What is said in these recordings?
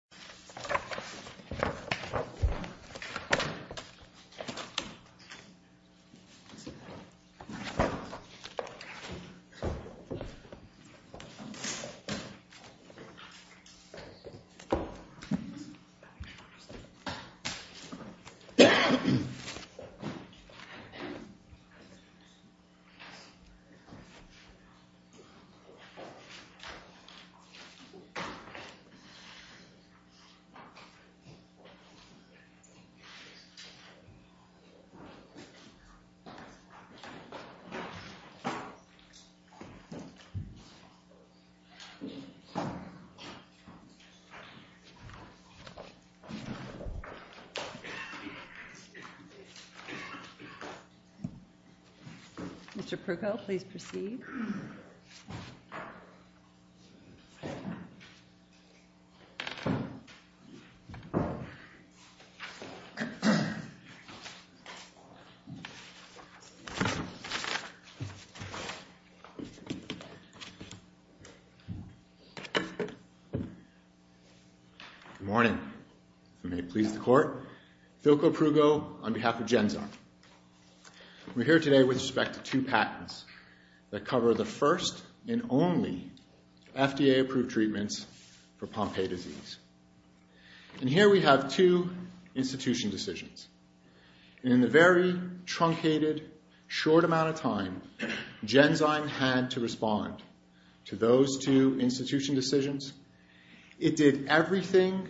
of America. Thank you. Mr. Proko, please proceed. Good morning, and may it please the Court, Phil Proko on behalf of GenZar. We're here today with respect to two patents that cover the first and only FDA-approved treatments for Pompe disease. Here we have two institution decisions. In the very truncated, short amount of time GenZar had to respond to those two institution decisions, it did everything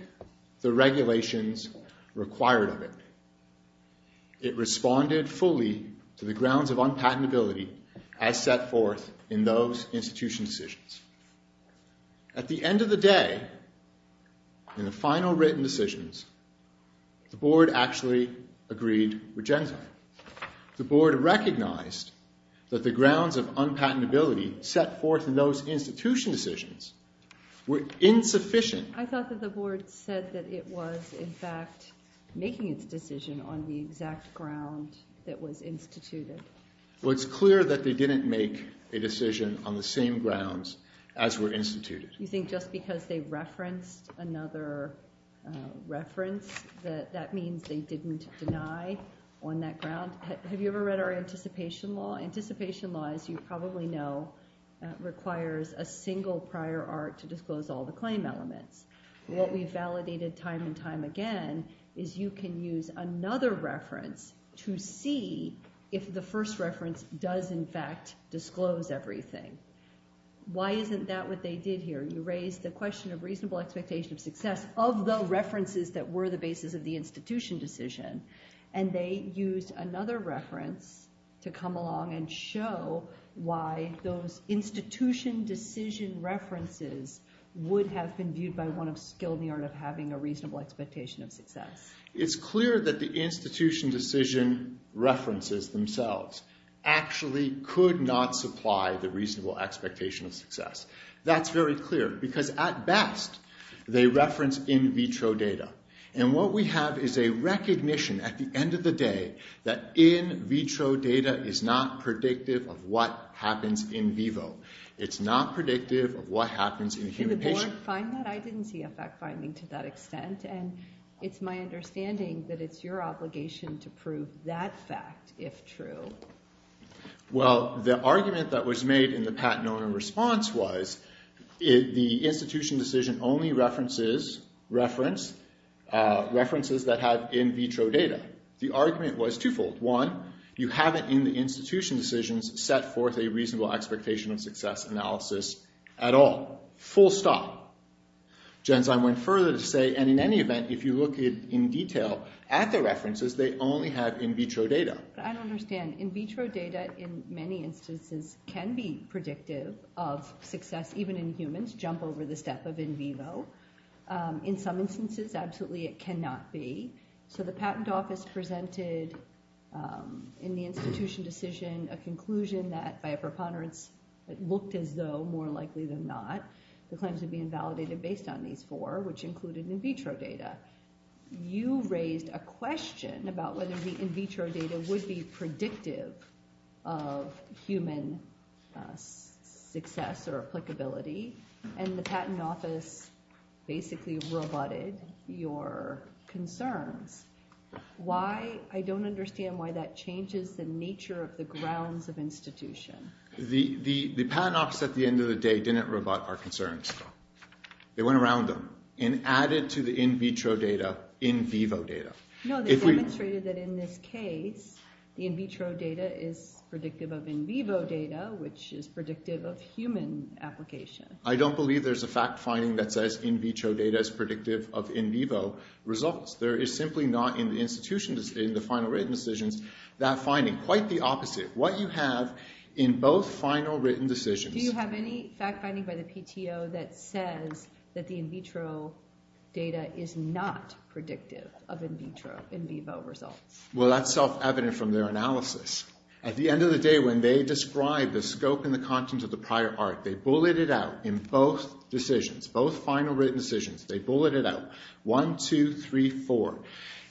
the regulations required of it. It responded fully to the grounds of unpatentability as set forth in those institution decisions. At the end of the day, in the final written decisions, the Board actually agreed with GenZar. The Board recognized that the grounds of unpatentability set forth in those institution decisions were insufficient. I thought that the Board said that it was in fact making its decision on the exact ground that was instituted. Well, it's clear that they didn't make a decision on the same grounds as were instituted. You think just because they referenced another reference that that means they didn't deny on that ground? Have you ever read our anticipation law? Anticipation law, as you probably know, requires a single prior art to disclose all the claim elements. What we validated time and time again is you can use another reference to see if the first reference does in fact disclose everything. Why isn't that what they did here? You raised the question of reasonable expectation of success of the references that were the basis of the institution decision, and they used another reference to come along and show why those institution decision references would have been viewed by one of skilled in the art of having a reasonable expectation of success. It's clear that the institution decision references themselves actually could not supply the reasonable expectation of success. That's very clear because at best they reference in vitro data. And what we have is a recognition at the end of the day that in vitro data is not predictive of what happens in vivo. It's not predictive of what happens in a human patient. Did the board find that? I didn't see a fact finding to that extent, and it's my understanding that it's your obligation to prove that fact, if true. Well, the argument that was made in the Pat Nona response was the institution decision only references references that had in vitro data. The argument was twofold. One, you haven't in the institution decisions set forth a reasonable expectation of success analysis at all. Full stop. Genzyme went further to say, and in any event, if you look in detail at the references, they only have in vitro data. I don't understand. In vitro data, in many instances, can be predictive of success, even in humans, jump over the step of in vivo. In some instances, absolutely it cannot be. The patent office presented in the institution decision a conclusion that, by a preponderance, it looked as though, more likely than not, the claims would be invalidated based on these four, which included in vitro data. You raised a question about whether the in vitro data would be predictive of human success or applicability, and the patent office basically rebutted your concerns. Why? I don't understand why that changes the nature of the grounds of institution. The patent office, at the end of the day, didn't rebut our concerns. They went around them and added to the in vitro data in vivo data. No, they demonstrated that in this case, the in vitro data is predictive of in vivo data, which is predictive of human application. I don't believe there's a fact-finding that says in vitro data is predictive of in vivo results. There is simply not in the institution decision, the final written decisions, that finding. Quite the opposite. What you have in both final written decisions... Do you have any fact-finding by the PTO that says that the in vitro data is not predictive of in vitro, in vivo results? Well, that's self-evident from their analysis. At the end of the day, when they describe the scope and the content of the prior art, they bullet it out in both decisions, both final written decisions. They bullet it out, one, two, three, four.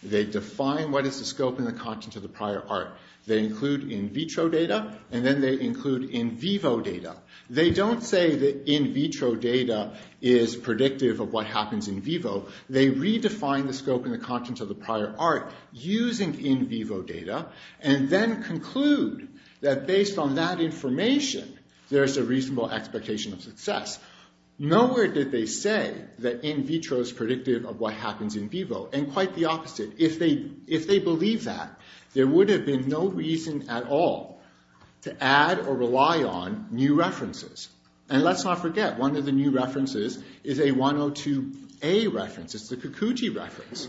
They define what is the scope and the content of the prior art. They include in vitro data, and then they include in vivo data. They don't say that in vitro data is predictive of what happens in vivo. They redefine the scope and the content of the prior art using in vivo data, and then conclude that based on that information, there's a reasonable expectation of success. Nowhere did they say that in vitro is predictive of what happens in vivo, and quite the opposite. If they believe that, there would have been no reason at all to add or rely on new references. And let's not forget, one of the new references is a 102A reference, it's the Kikuchi reference,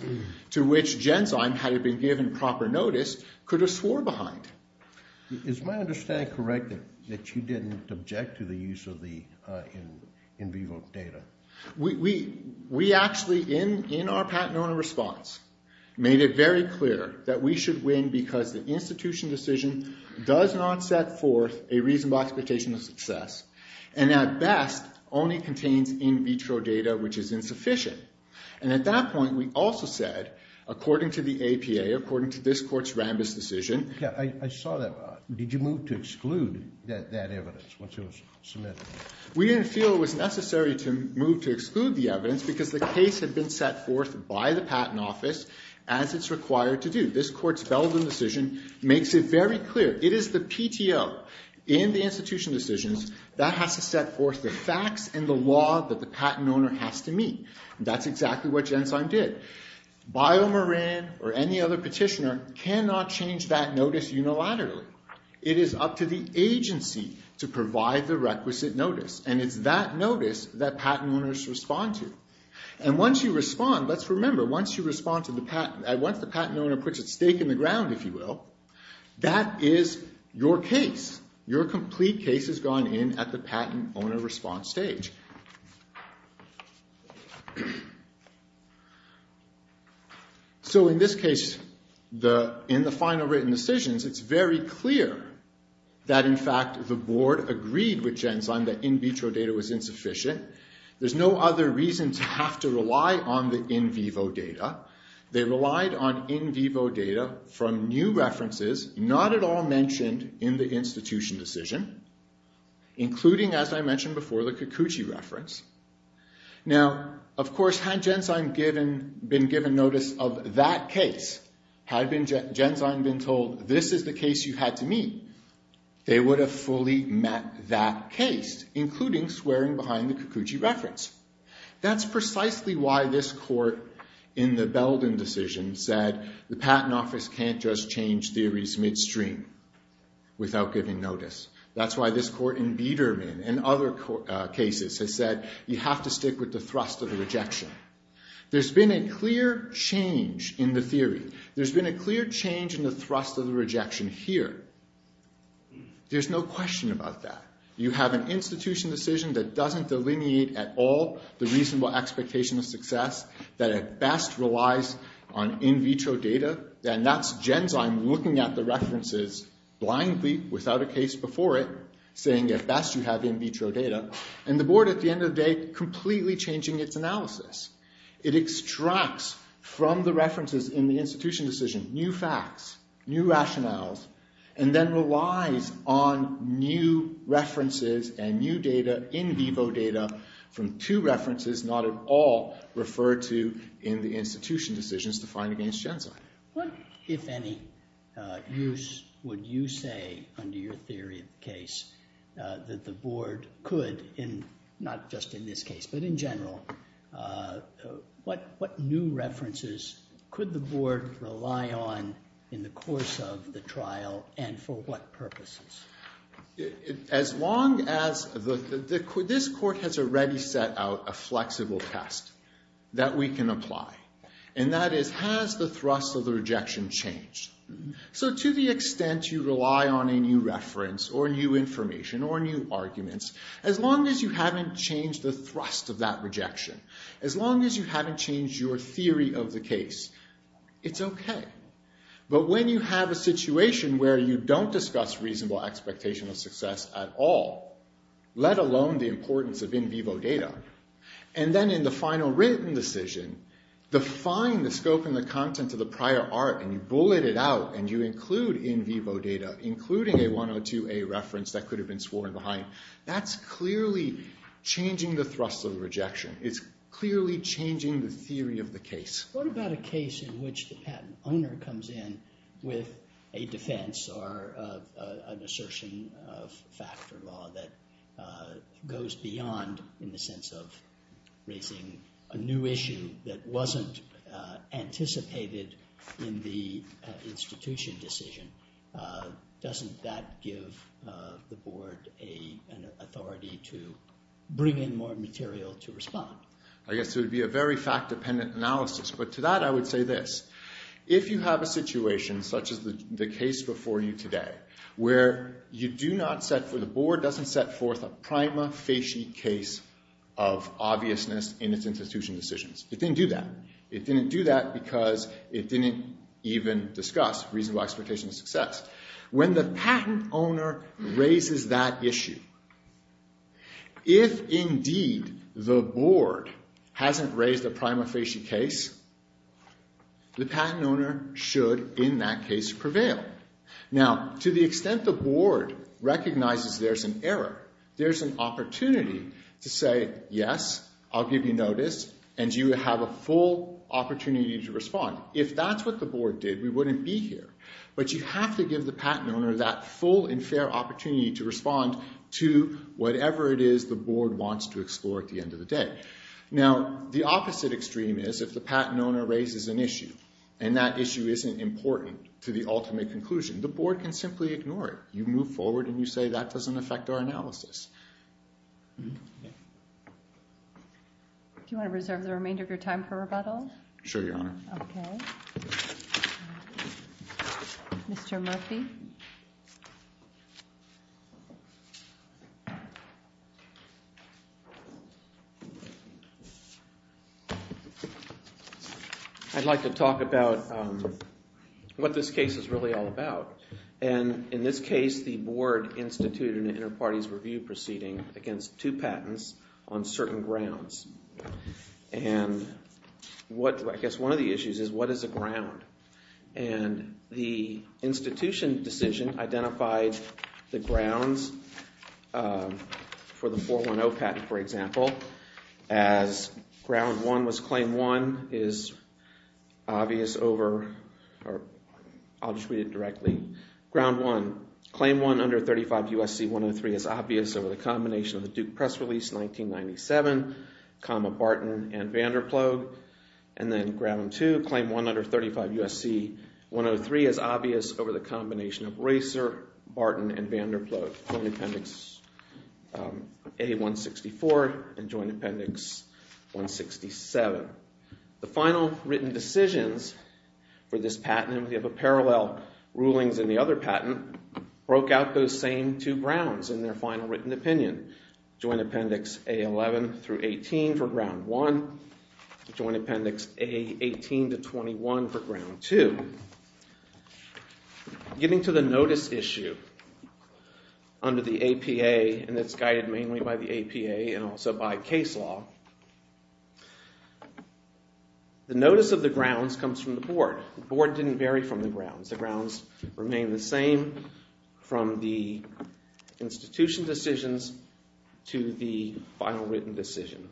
to which Genzyme, had it been given proper notice, could have swore behind. Is my understanding correct that you didn't object to the use of the in vivo data? We actually, in our patent owner response, made it very clear that we should win because the institution decision does not set forth a reasonable expectation of success, and at best, only contains in vitro data which is insufficient. And at that point, we also said, according to the APA, according to this court's Rambis decision... Yeah, I saw that. Did you move to exclude that evidence once it was submitted? We didn't feel it was necessary to move to exclude the evidence because the case had been set forth by the patent office as it's required to do. This court's Belden decision makes it very clear. It is the PTO in the institution decisions that has to set forth the facts and the law that the patent owner has to meet. That's exactly what Genzyme did. BioMarin or any other petitioner cannot change that notice unilaterally. It is up to the agency to provide the requisite notice. And it's that notice that patent owners respond to. And once you respond, let's remember, once the patent owner puts its stake in the ground, if you will, that is your case. Your complete case has gone in at the patent owner response stage. So in this case, in the final written decisions, it's very clear that, in fact, the board agreed with Genzyme that in vitro data was insufficient. There's no other reason to have to rely on the in vivo data. They relied on in vivo data from new references, not at all mentioned in the institution decision, including, as I mentioned before, the Kikuchi reference. Now, of course, had Genzyme been given notice of that case, had Genzyme been told, this is the case you had to meet, they would have fully met that case, including swearing behind the Kikuchi reference. That's precisely why this court in the Belden decision said the patent office can't just change theories midstream without giving notice. That's why this court in Biedermann and other cases has said you have to stick with the thrust of the rejection. There's been a clear change in the theory. There's been a clear change in the thrust of the rejection here. There's no question about that. You have an institution decision that doesn't delineate at all the reasonable expectation of success, that at best relies on in vitro data, and that's Genzyme looking at the references blindly, without a case before it, saying at best you have in vitro data, and the board at the end of the day completely changing its analysis. It extracts from the references in the institution decision new facts, new rationales, and then relies on new references and new data, in vivo data, from two references not at all referred to in the institution decisions defined against Genzyme. What, if any, use would you say under your theory of the case that the board could, not just in this case, but in general, what new references could the board rely on in the course of the trial, and for what purposes? As long as the, this court has already set out a flexible test that we can apply, and that is has the thrust of the rejection changed? So to the extent you rely on a new reference or new information or new arguments, as long as you haven't changed the thrust of that rejection, as long as you haven't changed your theory of the case, it's okay. But when you have a situation where you don't discuss reasonable expectation of success at all, let alone the importance of in vivo data, and then in the final written decision define the scope and the content of the prior art, and you bullet it out, and you include in vivo data, including a 102A reference that could have been sworn behind, that's clearly changing the thrust of the rejection. It's clearly changing the theory of the case. What about a case in which the patent owner comes in with a defense or an assertion of fact or law that goes beyond, in the sense of raising a new issue that wasn't anticipated in the institution decision, doesn't that give the board an authority to bring in more material to respond? I guess it would be a very fact-dependent analysis, but to that I would say this. If you have a situation such as the case before you today, where you do not set, where the board doesn't set forth a prima facie case of obviousness in its institution decisions. It didn't do that. It didn't do that because it didn't even discuss reasonable expectation of success. When the patent owner raises that issue, if indeed the board hasn't raised a prima facie case, the patent owner should, in that case, prevail. Now, to the extent the board recognizes there's an error, there's an opportunity to say, yes, I'll give you notice, and you have a full opportunity to respond. If that's what the board did, we wouldn't be here. But you have to give the patent owner that full and fair opportunity to respond to whatever it is the board wants to explore at the end of the day. Now, the opposite extreme is, if the patent owner raises an issue, and that issue isn't important to the ultimate conclusion, the board can simply ignore it. You move forward and you say, that doesn't affect our analysis. Do you want to reserve the remainder of your time for rebuttals? Sure, Your Honor. Okay. Mr. Murphy? I'd like to talk about what this case is really all about. And in this case, the board is trying to institute an inter-parties review proceeding against two patents on certain grounds. And I guess one of the issues is, what is the ground? And the institution decision identified the grounds for the 410 patent, for example, as ground one was claim one is obvious over, or I'll just read it directly. Ground one, claim one under 35 U.S.C. 103 is obvious over the combination of the Duke Press release 1997, comma, Barton and Vanderplug. And then ground two, claim one under 35 U.S.C. 103 is obvious over the combination of Racer, Barton, and Vanderplug, Joint Appendix A-164 and Joint Appendix 167. The final written decisions for this patent, and we have a parallel rulings in the other patent, broke out those same two grounds in their final written opinion. Joint Appendix A-11 through 18 for ground one, Joint Appendix A-18 to 21 for ground two. Getting to the notice issue under the APA, and it's guided mainly by the APA and also by case law, the notice of the grounds comes from the board. The board didn't vary from the grounds. The grounds remain the same from the institution decisions to the final written decision.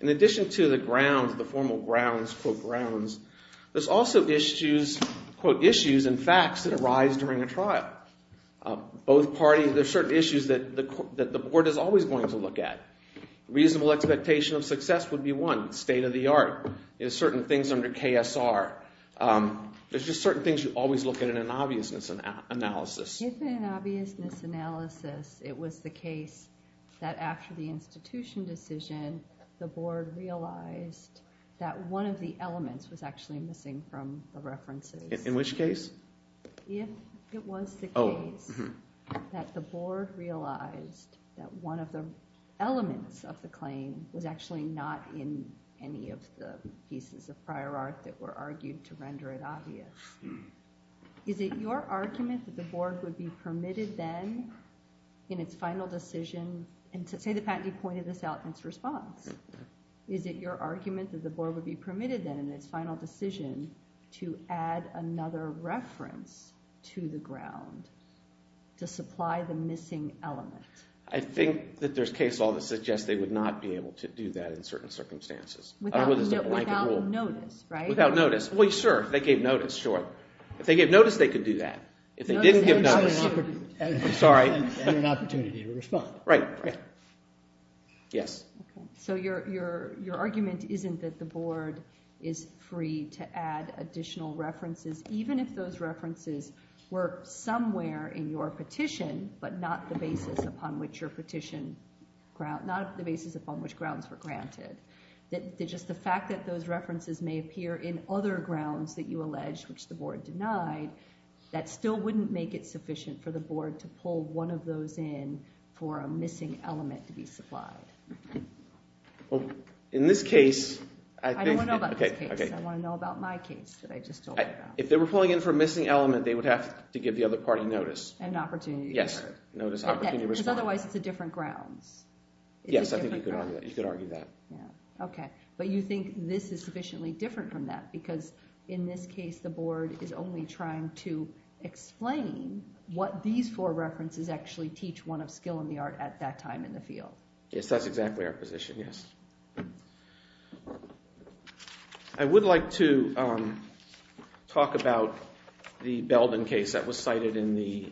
In addition to the grounds, the formal grounds, quote grounds, there's also issues, quote issues and facts that arise during a trial. Both parties, there's certain issues that the board is always going to look at. Reasonable expectation of success would be one, state of the art. There's certain things under KSR. There's just certain things you always look at in an obviousness analysis. If in an obviousness analysis it was the case that after the institution decision the board realized that one of the elements was actually missing from the references. In which case? If it was the case that the board realized that one of the elements of the claim was actually not in any of the pieces of prior art that were argued to render it obvious, is it your argument that the board would be permitted then in its final decision, and say the patentee pointed this out in its response, is it your argument that the board would be permitted to add a reference to the ground to supply the missing element? I think that there's case law that suggests they would not be able to do that in certain circumstances. Without notice, right? Without notice. Well, sure, if they gave notice, sure. If they gave notice they could do that. If they didn't give notice, I'm sorry. And an opportunity to respond. Right, right. Yes. So your argument isn't that the board is free to add additional references even if those references were somewhere in your petition, but not the basis upon which your petition grounds, not the basis upon which grounds were granted. Just the fact that those references may appear in other grounds that you allege, which the board denied, that still wouldn't make it sufficient for the board to pull one of those in for a missing element to be supplied. In this case, I think... I don't want to know about this case. I want to know about my case that I just told you about. If they were pulling in for a missing element, they would have to give the other party notice. And an opportunity to respond. Yes. Notice, opportunity to respond. Because otherwise it's a different grounds. Yes, I think you could argue that. Okay, but you think this is sufficiently different from that because in this case the board is only trying to explain what these four references actually teach one of skill in the art at that time in the field. Yes, that's exactly our position, yes. I would like to talk about the Belden case that was cited in the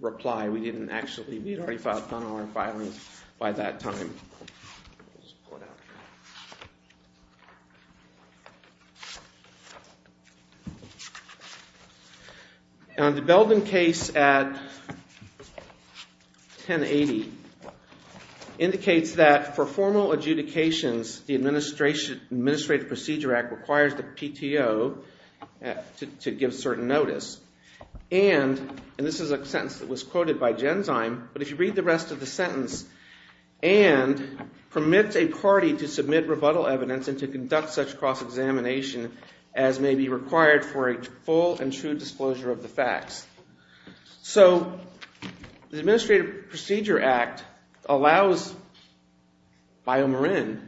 reply. We didn't actually... We had already filed a gun law in filing by that time. I'll just pull it out here. The Belden case at 1080 indicates that for formal adjudications, the Administrative Procedure Act requires the PTO to give certain notice. And, and this is a sentence that was quoted by Genzyme, but if you read the rest of the It permits a party to submit rebuttal evidence and to conduct such cross-examination as may be required for a full and true disclosure of the facts. So, the Administrative Procedure Act allows BioMarin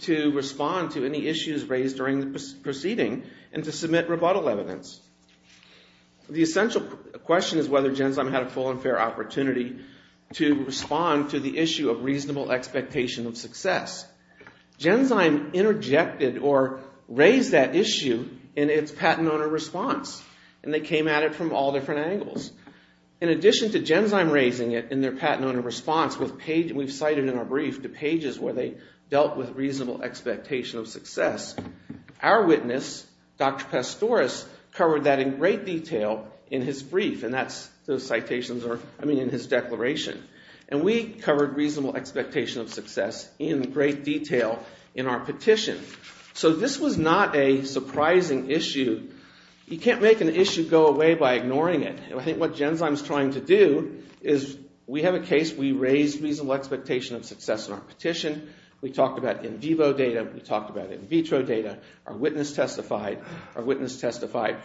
to respond to any issues raised during the proceeding and to submit rebuttal evidence. The essential question is whether Genzyme had a full and fair opportunity to respond to the issue of reasonable expectation of success. Genzyme interjected or raised that issue in its patent owner response. And they came at it from all different angles. In addition to Genzyme raising it in their patent owner response, we've cited in our brief the pages where they dealt with reasonable expectation of success. Our witness, Dr. Pastores, covered that in great detail in his brief. And that's those citations are, I mean, in his declaration. And we covered reasonable expectation of success in great detail in our petition. So, this was not a surprising issue. You can't make an issue go away by ignoring it. I think what Genzyme is trying to do is, we have a case we raised reasonable expectation of success in our petition. We talked about in vivo data. We talked about in vitro data. Our witness testified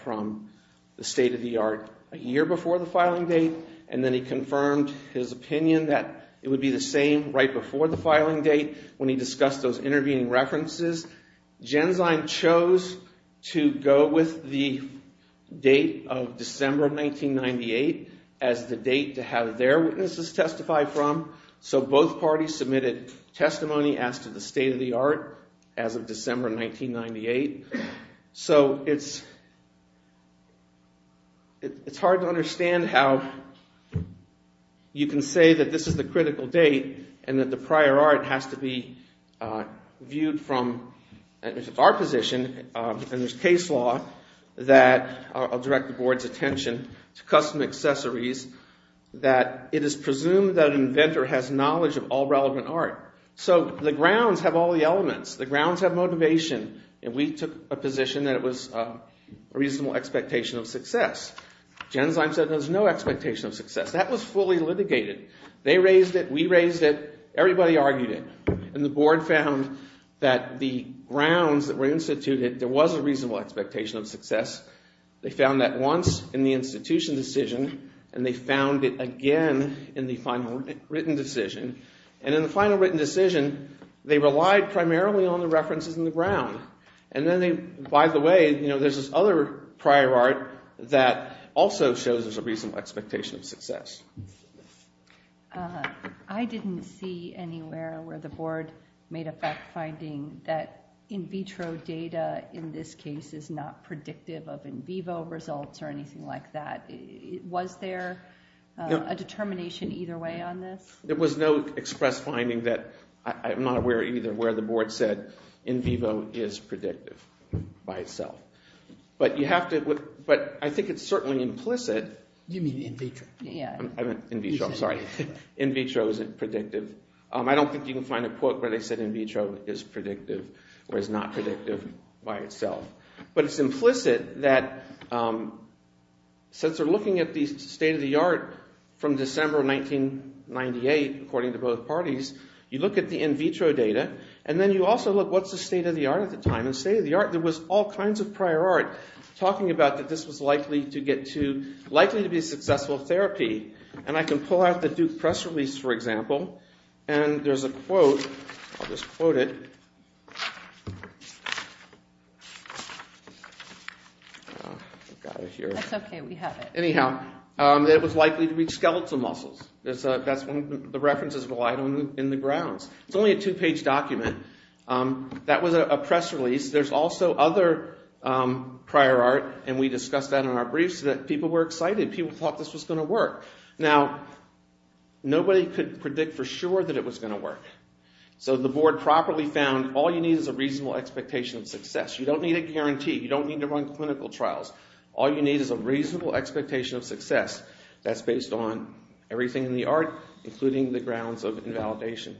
from the state of the art a year before the filing date. And then he confirmed his opinion that it would be the same right before the filing date when he discussed those intervening references. Genzyme chose to go with the date of December 1998 as the date to have their witnesses testify from. So, both parties submitted testimony as to the state of the art as of December 1998. So, it's hard to understand how you can say that this is the critical date and that the prior art has to be viewed from, if it's our position, and there's case law that, I'll direct the board's attention to custom accessories, that it is presumed that an inventor has knowledge of all relevant art. So, the grounds have all the elements. The grounds have motivation. And we took a position that it was a reasonable expectation of success. Genzyme said there's no expectation of success. That was fully litigated. They raised it, we raised it, everybody argued it. And the board found that the grounds that were instituted, there was a reasonable expectation of success. They found that once in the institution decision, and they found it again in the final written decision. And in the final written decision, they relied primarily on the references in the ground. And then they, by the way, there's this other prior art that also shows there's a reasonable expectation of success. I didn't see anywhere where the board made a fact finding that in vitro data in this case is not predictive of in vivo results or anything like that. Was there a determination either way on this? There was no express finding that, I'm not aware either, where the board said in vivo is predictive by itself. But you have to, but I think it's certainly implicit. You mean in vitro? In vitro, I'm sorry. In vitro is predictive. I don't think you can find a quote where they said in vitro is predictive, where it's not predictive by itself. But it's implicit that since we're looking at the state of the art from December 1998, according to both parties, you look at the in vitro data, and then you also look, what's the state of the art at the time? And the state of the art, there was all kinds of prior art talking about that this was likely to get to, likely to be successful therapy. And I can pull out the Duke press release, for example, and there's a quote, I'll just quote it. That's okay, we have it. Anyhow, it was likely to be skeletal muscles. That's one of the references in the grounds. It's only a two-page document. That was a press release. There's also other prior art, and we discussed that in our briefs, that people were excited, people thought this was going to work. Now, nobody could predict for sure that it was going to work. So the board properly found all you need is a reasonable expectation of success. You don't need a guarantee, you don't need to run clinical trials. All you need is a reasonable expectation of success. That's based on everything in the art, including the grounds of invalidation.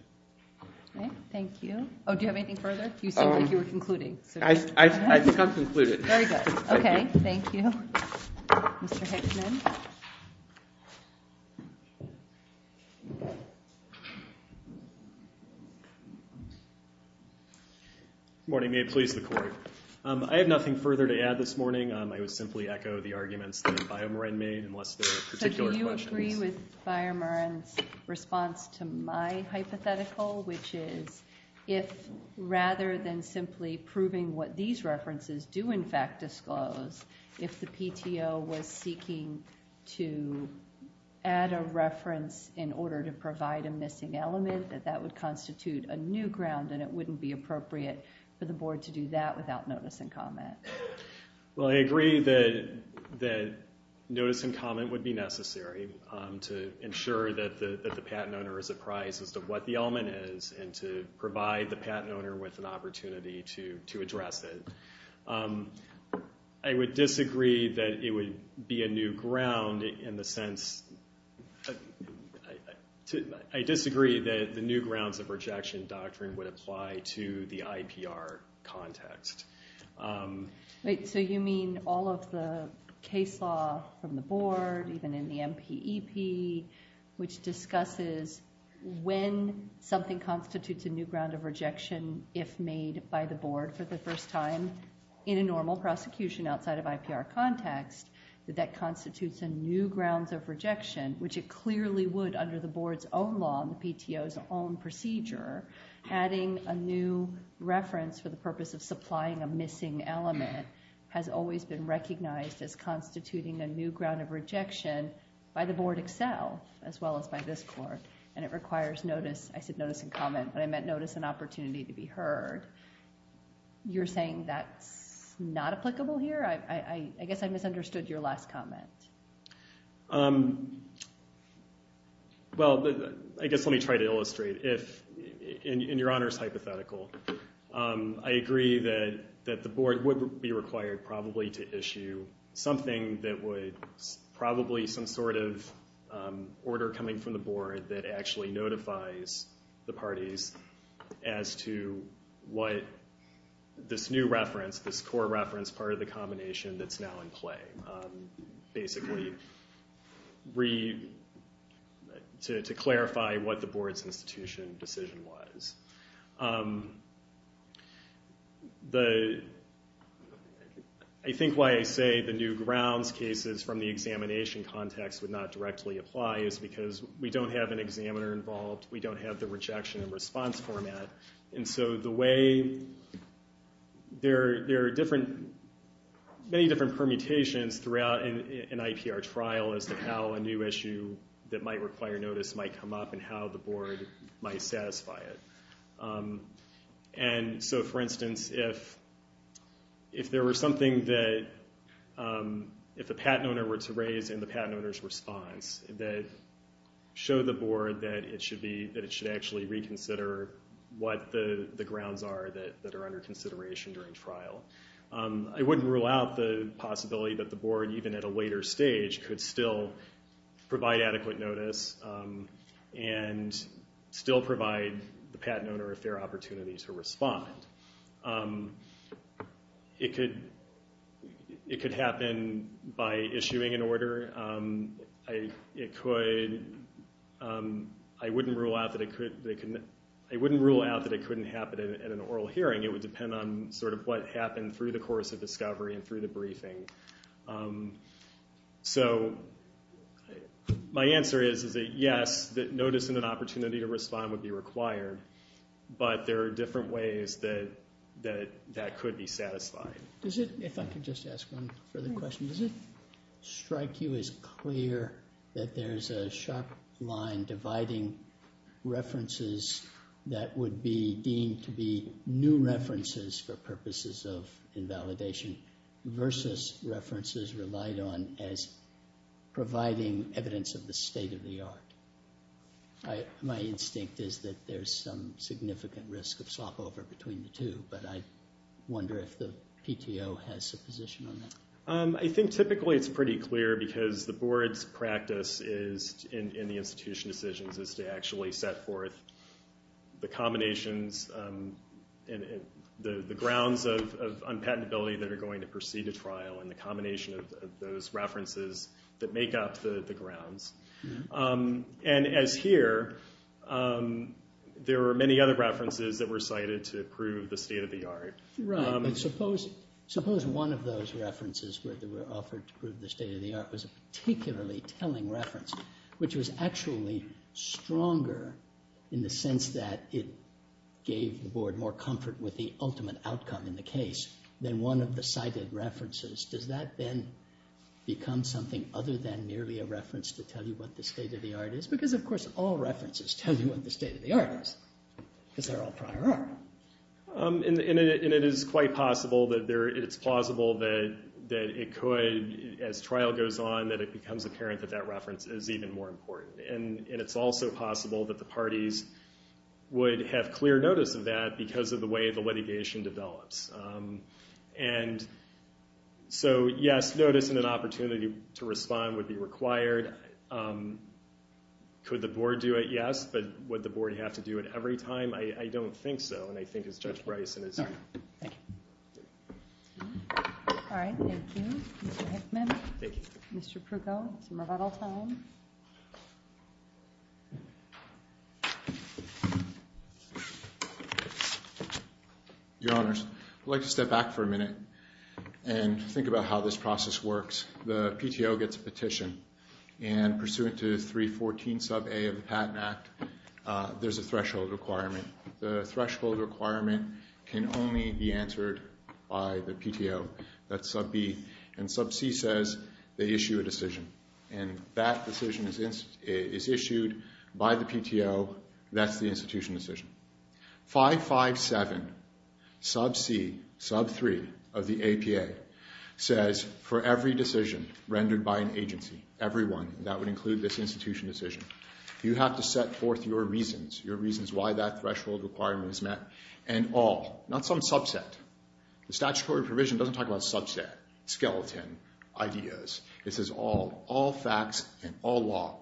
Okay, thank you. Oh, do you have anything further? You seemed like you were concluding. I've concluded. Very good. Okay, thank you. Mr. Hickman. Good morning, may it please the Court. I have nothing further to add this morning. I would simply echo the arguments that BioMarin made, unless there are particular questions. So do you agree with BioMarin's response to my hypothetical, which is if rather than simply proving what these references do in fact disclose, if the PTO was seeking to add a reference in order to provide a missing element, that that would constitute a new ground, and it wouldn't be appropriate for the board to do that without notice and comment? Well, I agree that notice and comment would be necessary to ensure that the patent owner is apprised as to what the element is, and to provide the patent owner with an opportunity to address it. I would disagree that it would be a new ground in the sense... I disagree that the new grounds of rejection doctrine would apply to the IPR context. So you mean all of the case law from the board, even in the MPEP, which discusses when something constitutes a new ground of rejection if made by the board for the first time in a normal prosecution outside of IPR context, that that constitutes a new grounds of rejection, which it clearly would under the board's own law and the PTO's own procedure, adding a new reference for the purpose of supplying a missing element has always been recognized as constituting a new ground of rejection by the board itself, as well as by this court, and it requires notice, I said notice and comment, but I meant notice and opportunity to be heard. You're saying that's not applicable here? I guess I misunderstood your last comment. Well, I guess let me try to illustrate. In your Honor's hypothetical, I agree that the board would be required probably to issue something that would, probably some sort of order coming from the board that actually notifies the parties as to what this new reference, this core reference part of the combination that's now in play. Basically, to clarify what the board's institution decision was. I think why I say the new grounds cases from the examination context would not directly apply is because we don't have an examiner involved, we don't have the rejection and response format, and so the way, there are many different permutations throughout an IPR trial as to how a new issue that might require notice might come up, and how the board might satisfy it. And so, for instance, if there were something that, if a patent owner were to raise in the patent owner's response, that showed the board that it should actually reconsider what the grounds are that are under consideration during trial. I wouldn't rule out the possibility that the board, even at a later stage, could still provide adequate notice, and still provide the patent owner a fair opportunity to respond. It could happen by issuing an order. It could, I wouldn't rule out that it could, I wouldn't rule out that it couldn't happen at an oral hearing, it would depend on sort of what happened through the course of discovery, and through the briefing. So, my answer is that yes, that notice and an opportunity to respond would be required, but there are different ways that that could be satisfied. Does it, if I could just ask one further question, does it strike you as clear that there's a sharp line dividing references that would be deemed to be new references for purposes of invalidation, versus references relied on as providing evidence of the state of the art? My instinct is that there's some significant risk of slop over between the two, but I wonder if the PTO has a position on that. I think typically it's pretty clear, because the board's practice is, in the institution decisions, is to actually set forth the combinations, the grounds of unpatentability that are going to proceed to trial, and the combination of those references that make up the grounds. And as here, there are many other references that were cited to prove the state of the art. Right, but suppose one of those references where they were offered to prove the state of the art was a particularly telling reference, which was actually stronger in the sense that it gave the board more comfort with the ultimate outcome in the case, than one of the cited references. Does that then become something other than merely a reference to tell you what the state of the art is? Because, of course, all references tell you what the state of the art is, because they're all prior art. And it is quite possible that it's plausible that it could, as trial goes on, that it becomes apparent that that reference is even more important. And it's also possible that the parties would have clear notice of that because of the way the litigation develops. And so, yes, notice and an opportunity to respond would be required. Could the board do it? Yes. But would the board have to do it every time? I don't think so. And I think as Judge Bryson has said. Thank you. All right. Thank you. Mr. Hickman. Thank you. Mr. Pruko. It's rebuttal time. Your Honors, I'd like to step back for a minute and think about how this process works. The PTO gets a petition. And pursuant to 314 sub A of the Patent Act, there's a threshold requirement. The threshold requirement can only be answered by the PTO. That's sub B. And sub C says they issue a decision. And that decision is issued by the PTO. That's the institution decision. 557 sub C, sub 3 of the APA says for every decision rendered by an agency, everyone, that would include this institution decision, you have to set forth your reasons, your reasons why that threshold requirement is met. And all, not some subset. The statutory provision doesn't talk about subset, skeleton, ideas. It says all. All facts and all law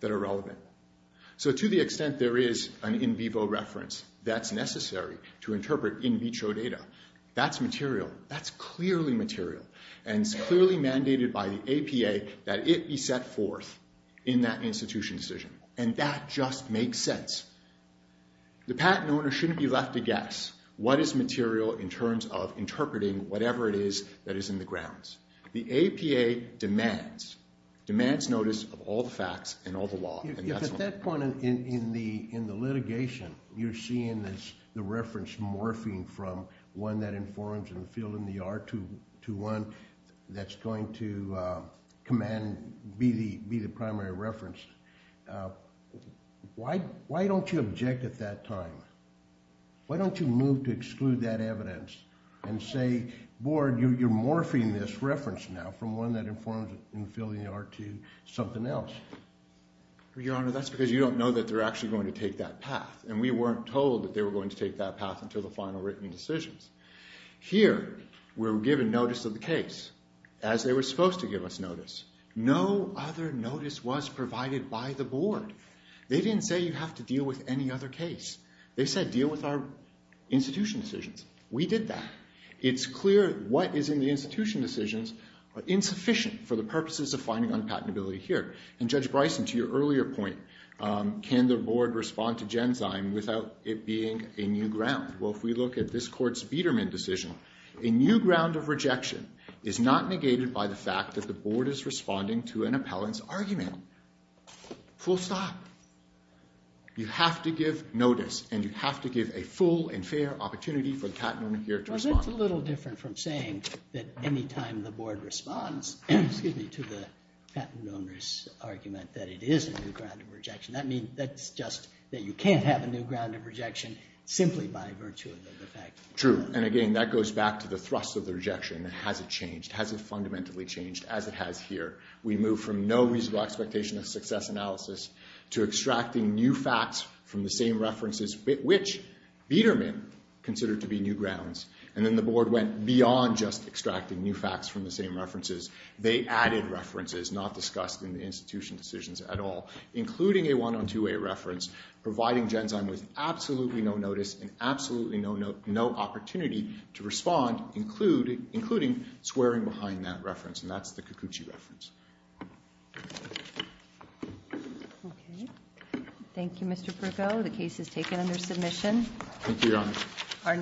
that are relevant. So to the extent there is an in vivo reference that's necessary to interpret in vitro data, that's material. That's clearly material. And it's clearly mandated by the APA that it be set forth in that institution decision. And that just makes sense. The patent owner shouldn't be left to guess what is material in terms of interpreting whatever it is that is in the grounds. The APA demands, demands notice of all the facts and all the law. If at that point in the litigation, you're seeing the reference morphing from one that informs in the field in the art to one that's going to command, be the primary reference, why don't you object at that time? Why don't you move to exclude that evidence and say, board, you're morphing this reference now from one that informs in the field in the art to something else? Your Honor, that's because you don't know that they're actually going to take that path. And we weren't told that they were going to take that path until the final written decisions. Here, we're given notice of the case as they were supposed to give us notice. No other notice was provided by the board. They didn't say you have to deal with any other case. They said deal with our institution decisions. We did that. It's clear what is in the institution decisions are insufficient for the purposes of finding on patentability here. And Judge Bryson, to your earlier point, can the board respond to Genzyme without it being a new ground? Well, if we look at this court's Biedermann decision, a new ground of rejection is not negated by the fact that the board is responding to an appellant's argument. Full stop. You have to give notice. And you have to give a full and fair opportunity for the patent owner here to respond. Well, that's a little different from saying that any time the board responds, excuse me, to the patent owner's argument that it is a new ground of rejection. That's just that you can't have a new ground of rejection simply by virtue of the fact. True. And again, that goes back to the thrust of the rejection. Has it changed? Has it fundamentally changed? As it has here. We moved from no reasonable expectation of success analysis to extracting new facts from the same references, which Biedermann considered to be new grounds. And then the board went beyond just extracting new facts from the same references. They added references not discussed in the institution decisions at all, including a one-on-two-way reference providing Genzyme with absolutely no notice and absolutely no opportunity to respond, including swearing behind that reference. And that's the Kikuchi reference. Okay. Thank you, Mr. Brigo. The case is taken under submission. Thank you, Your Honor.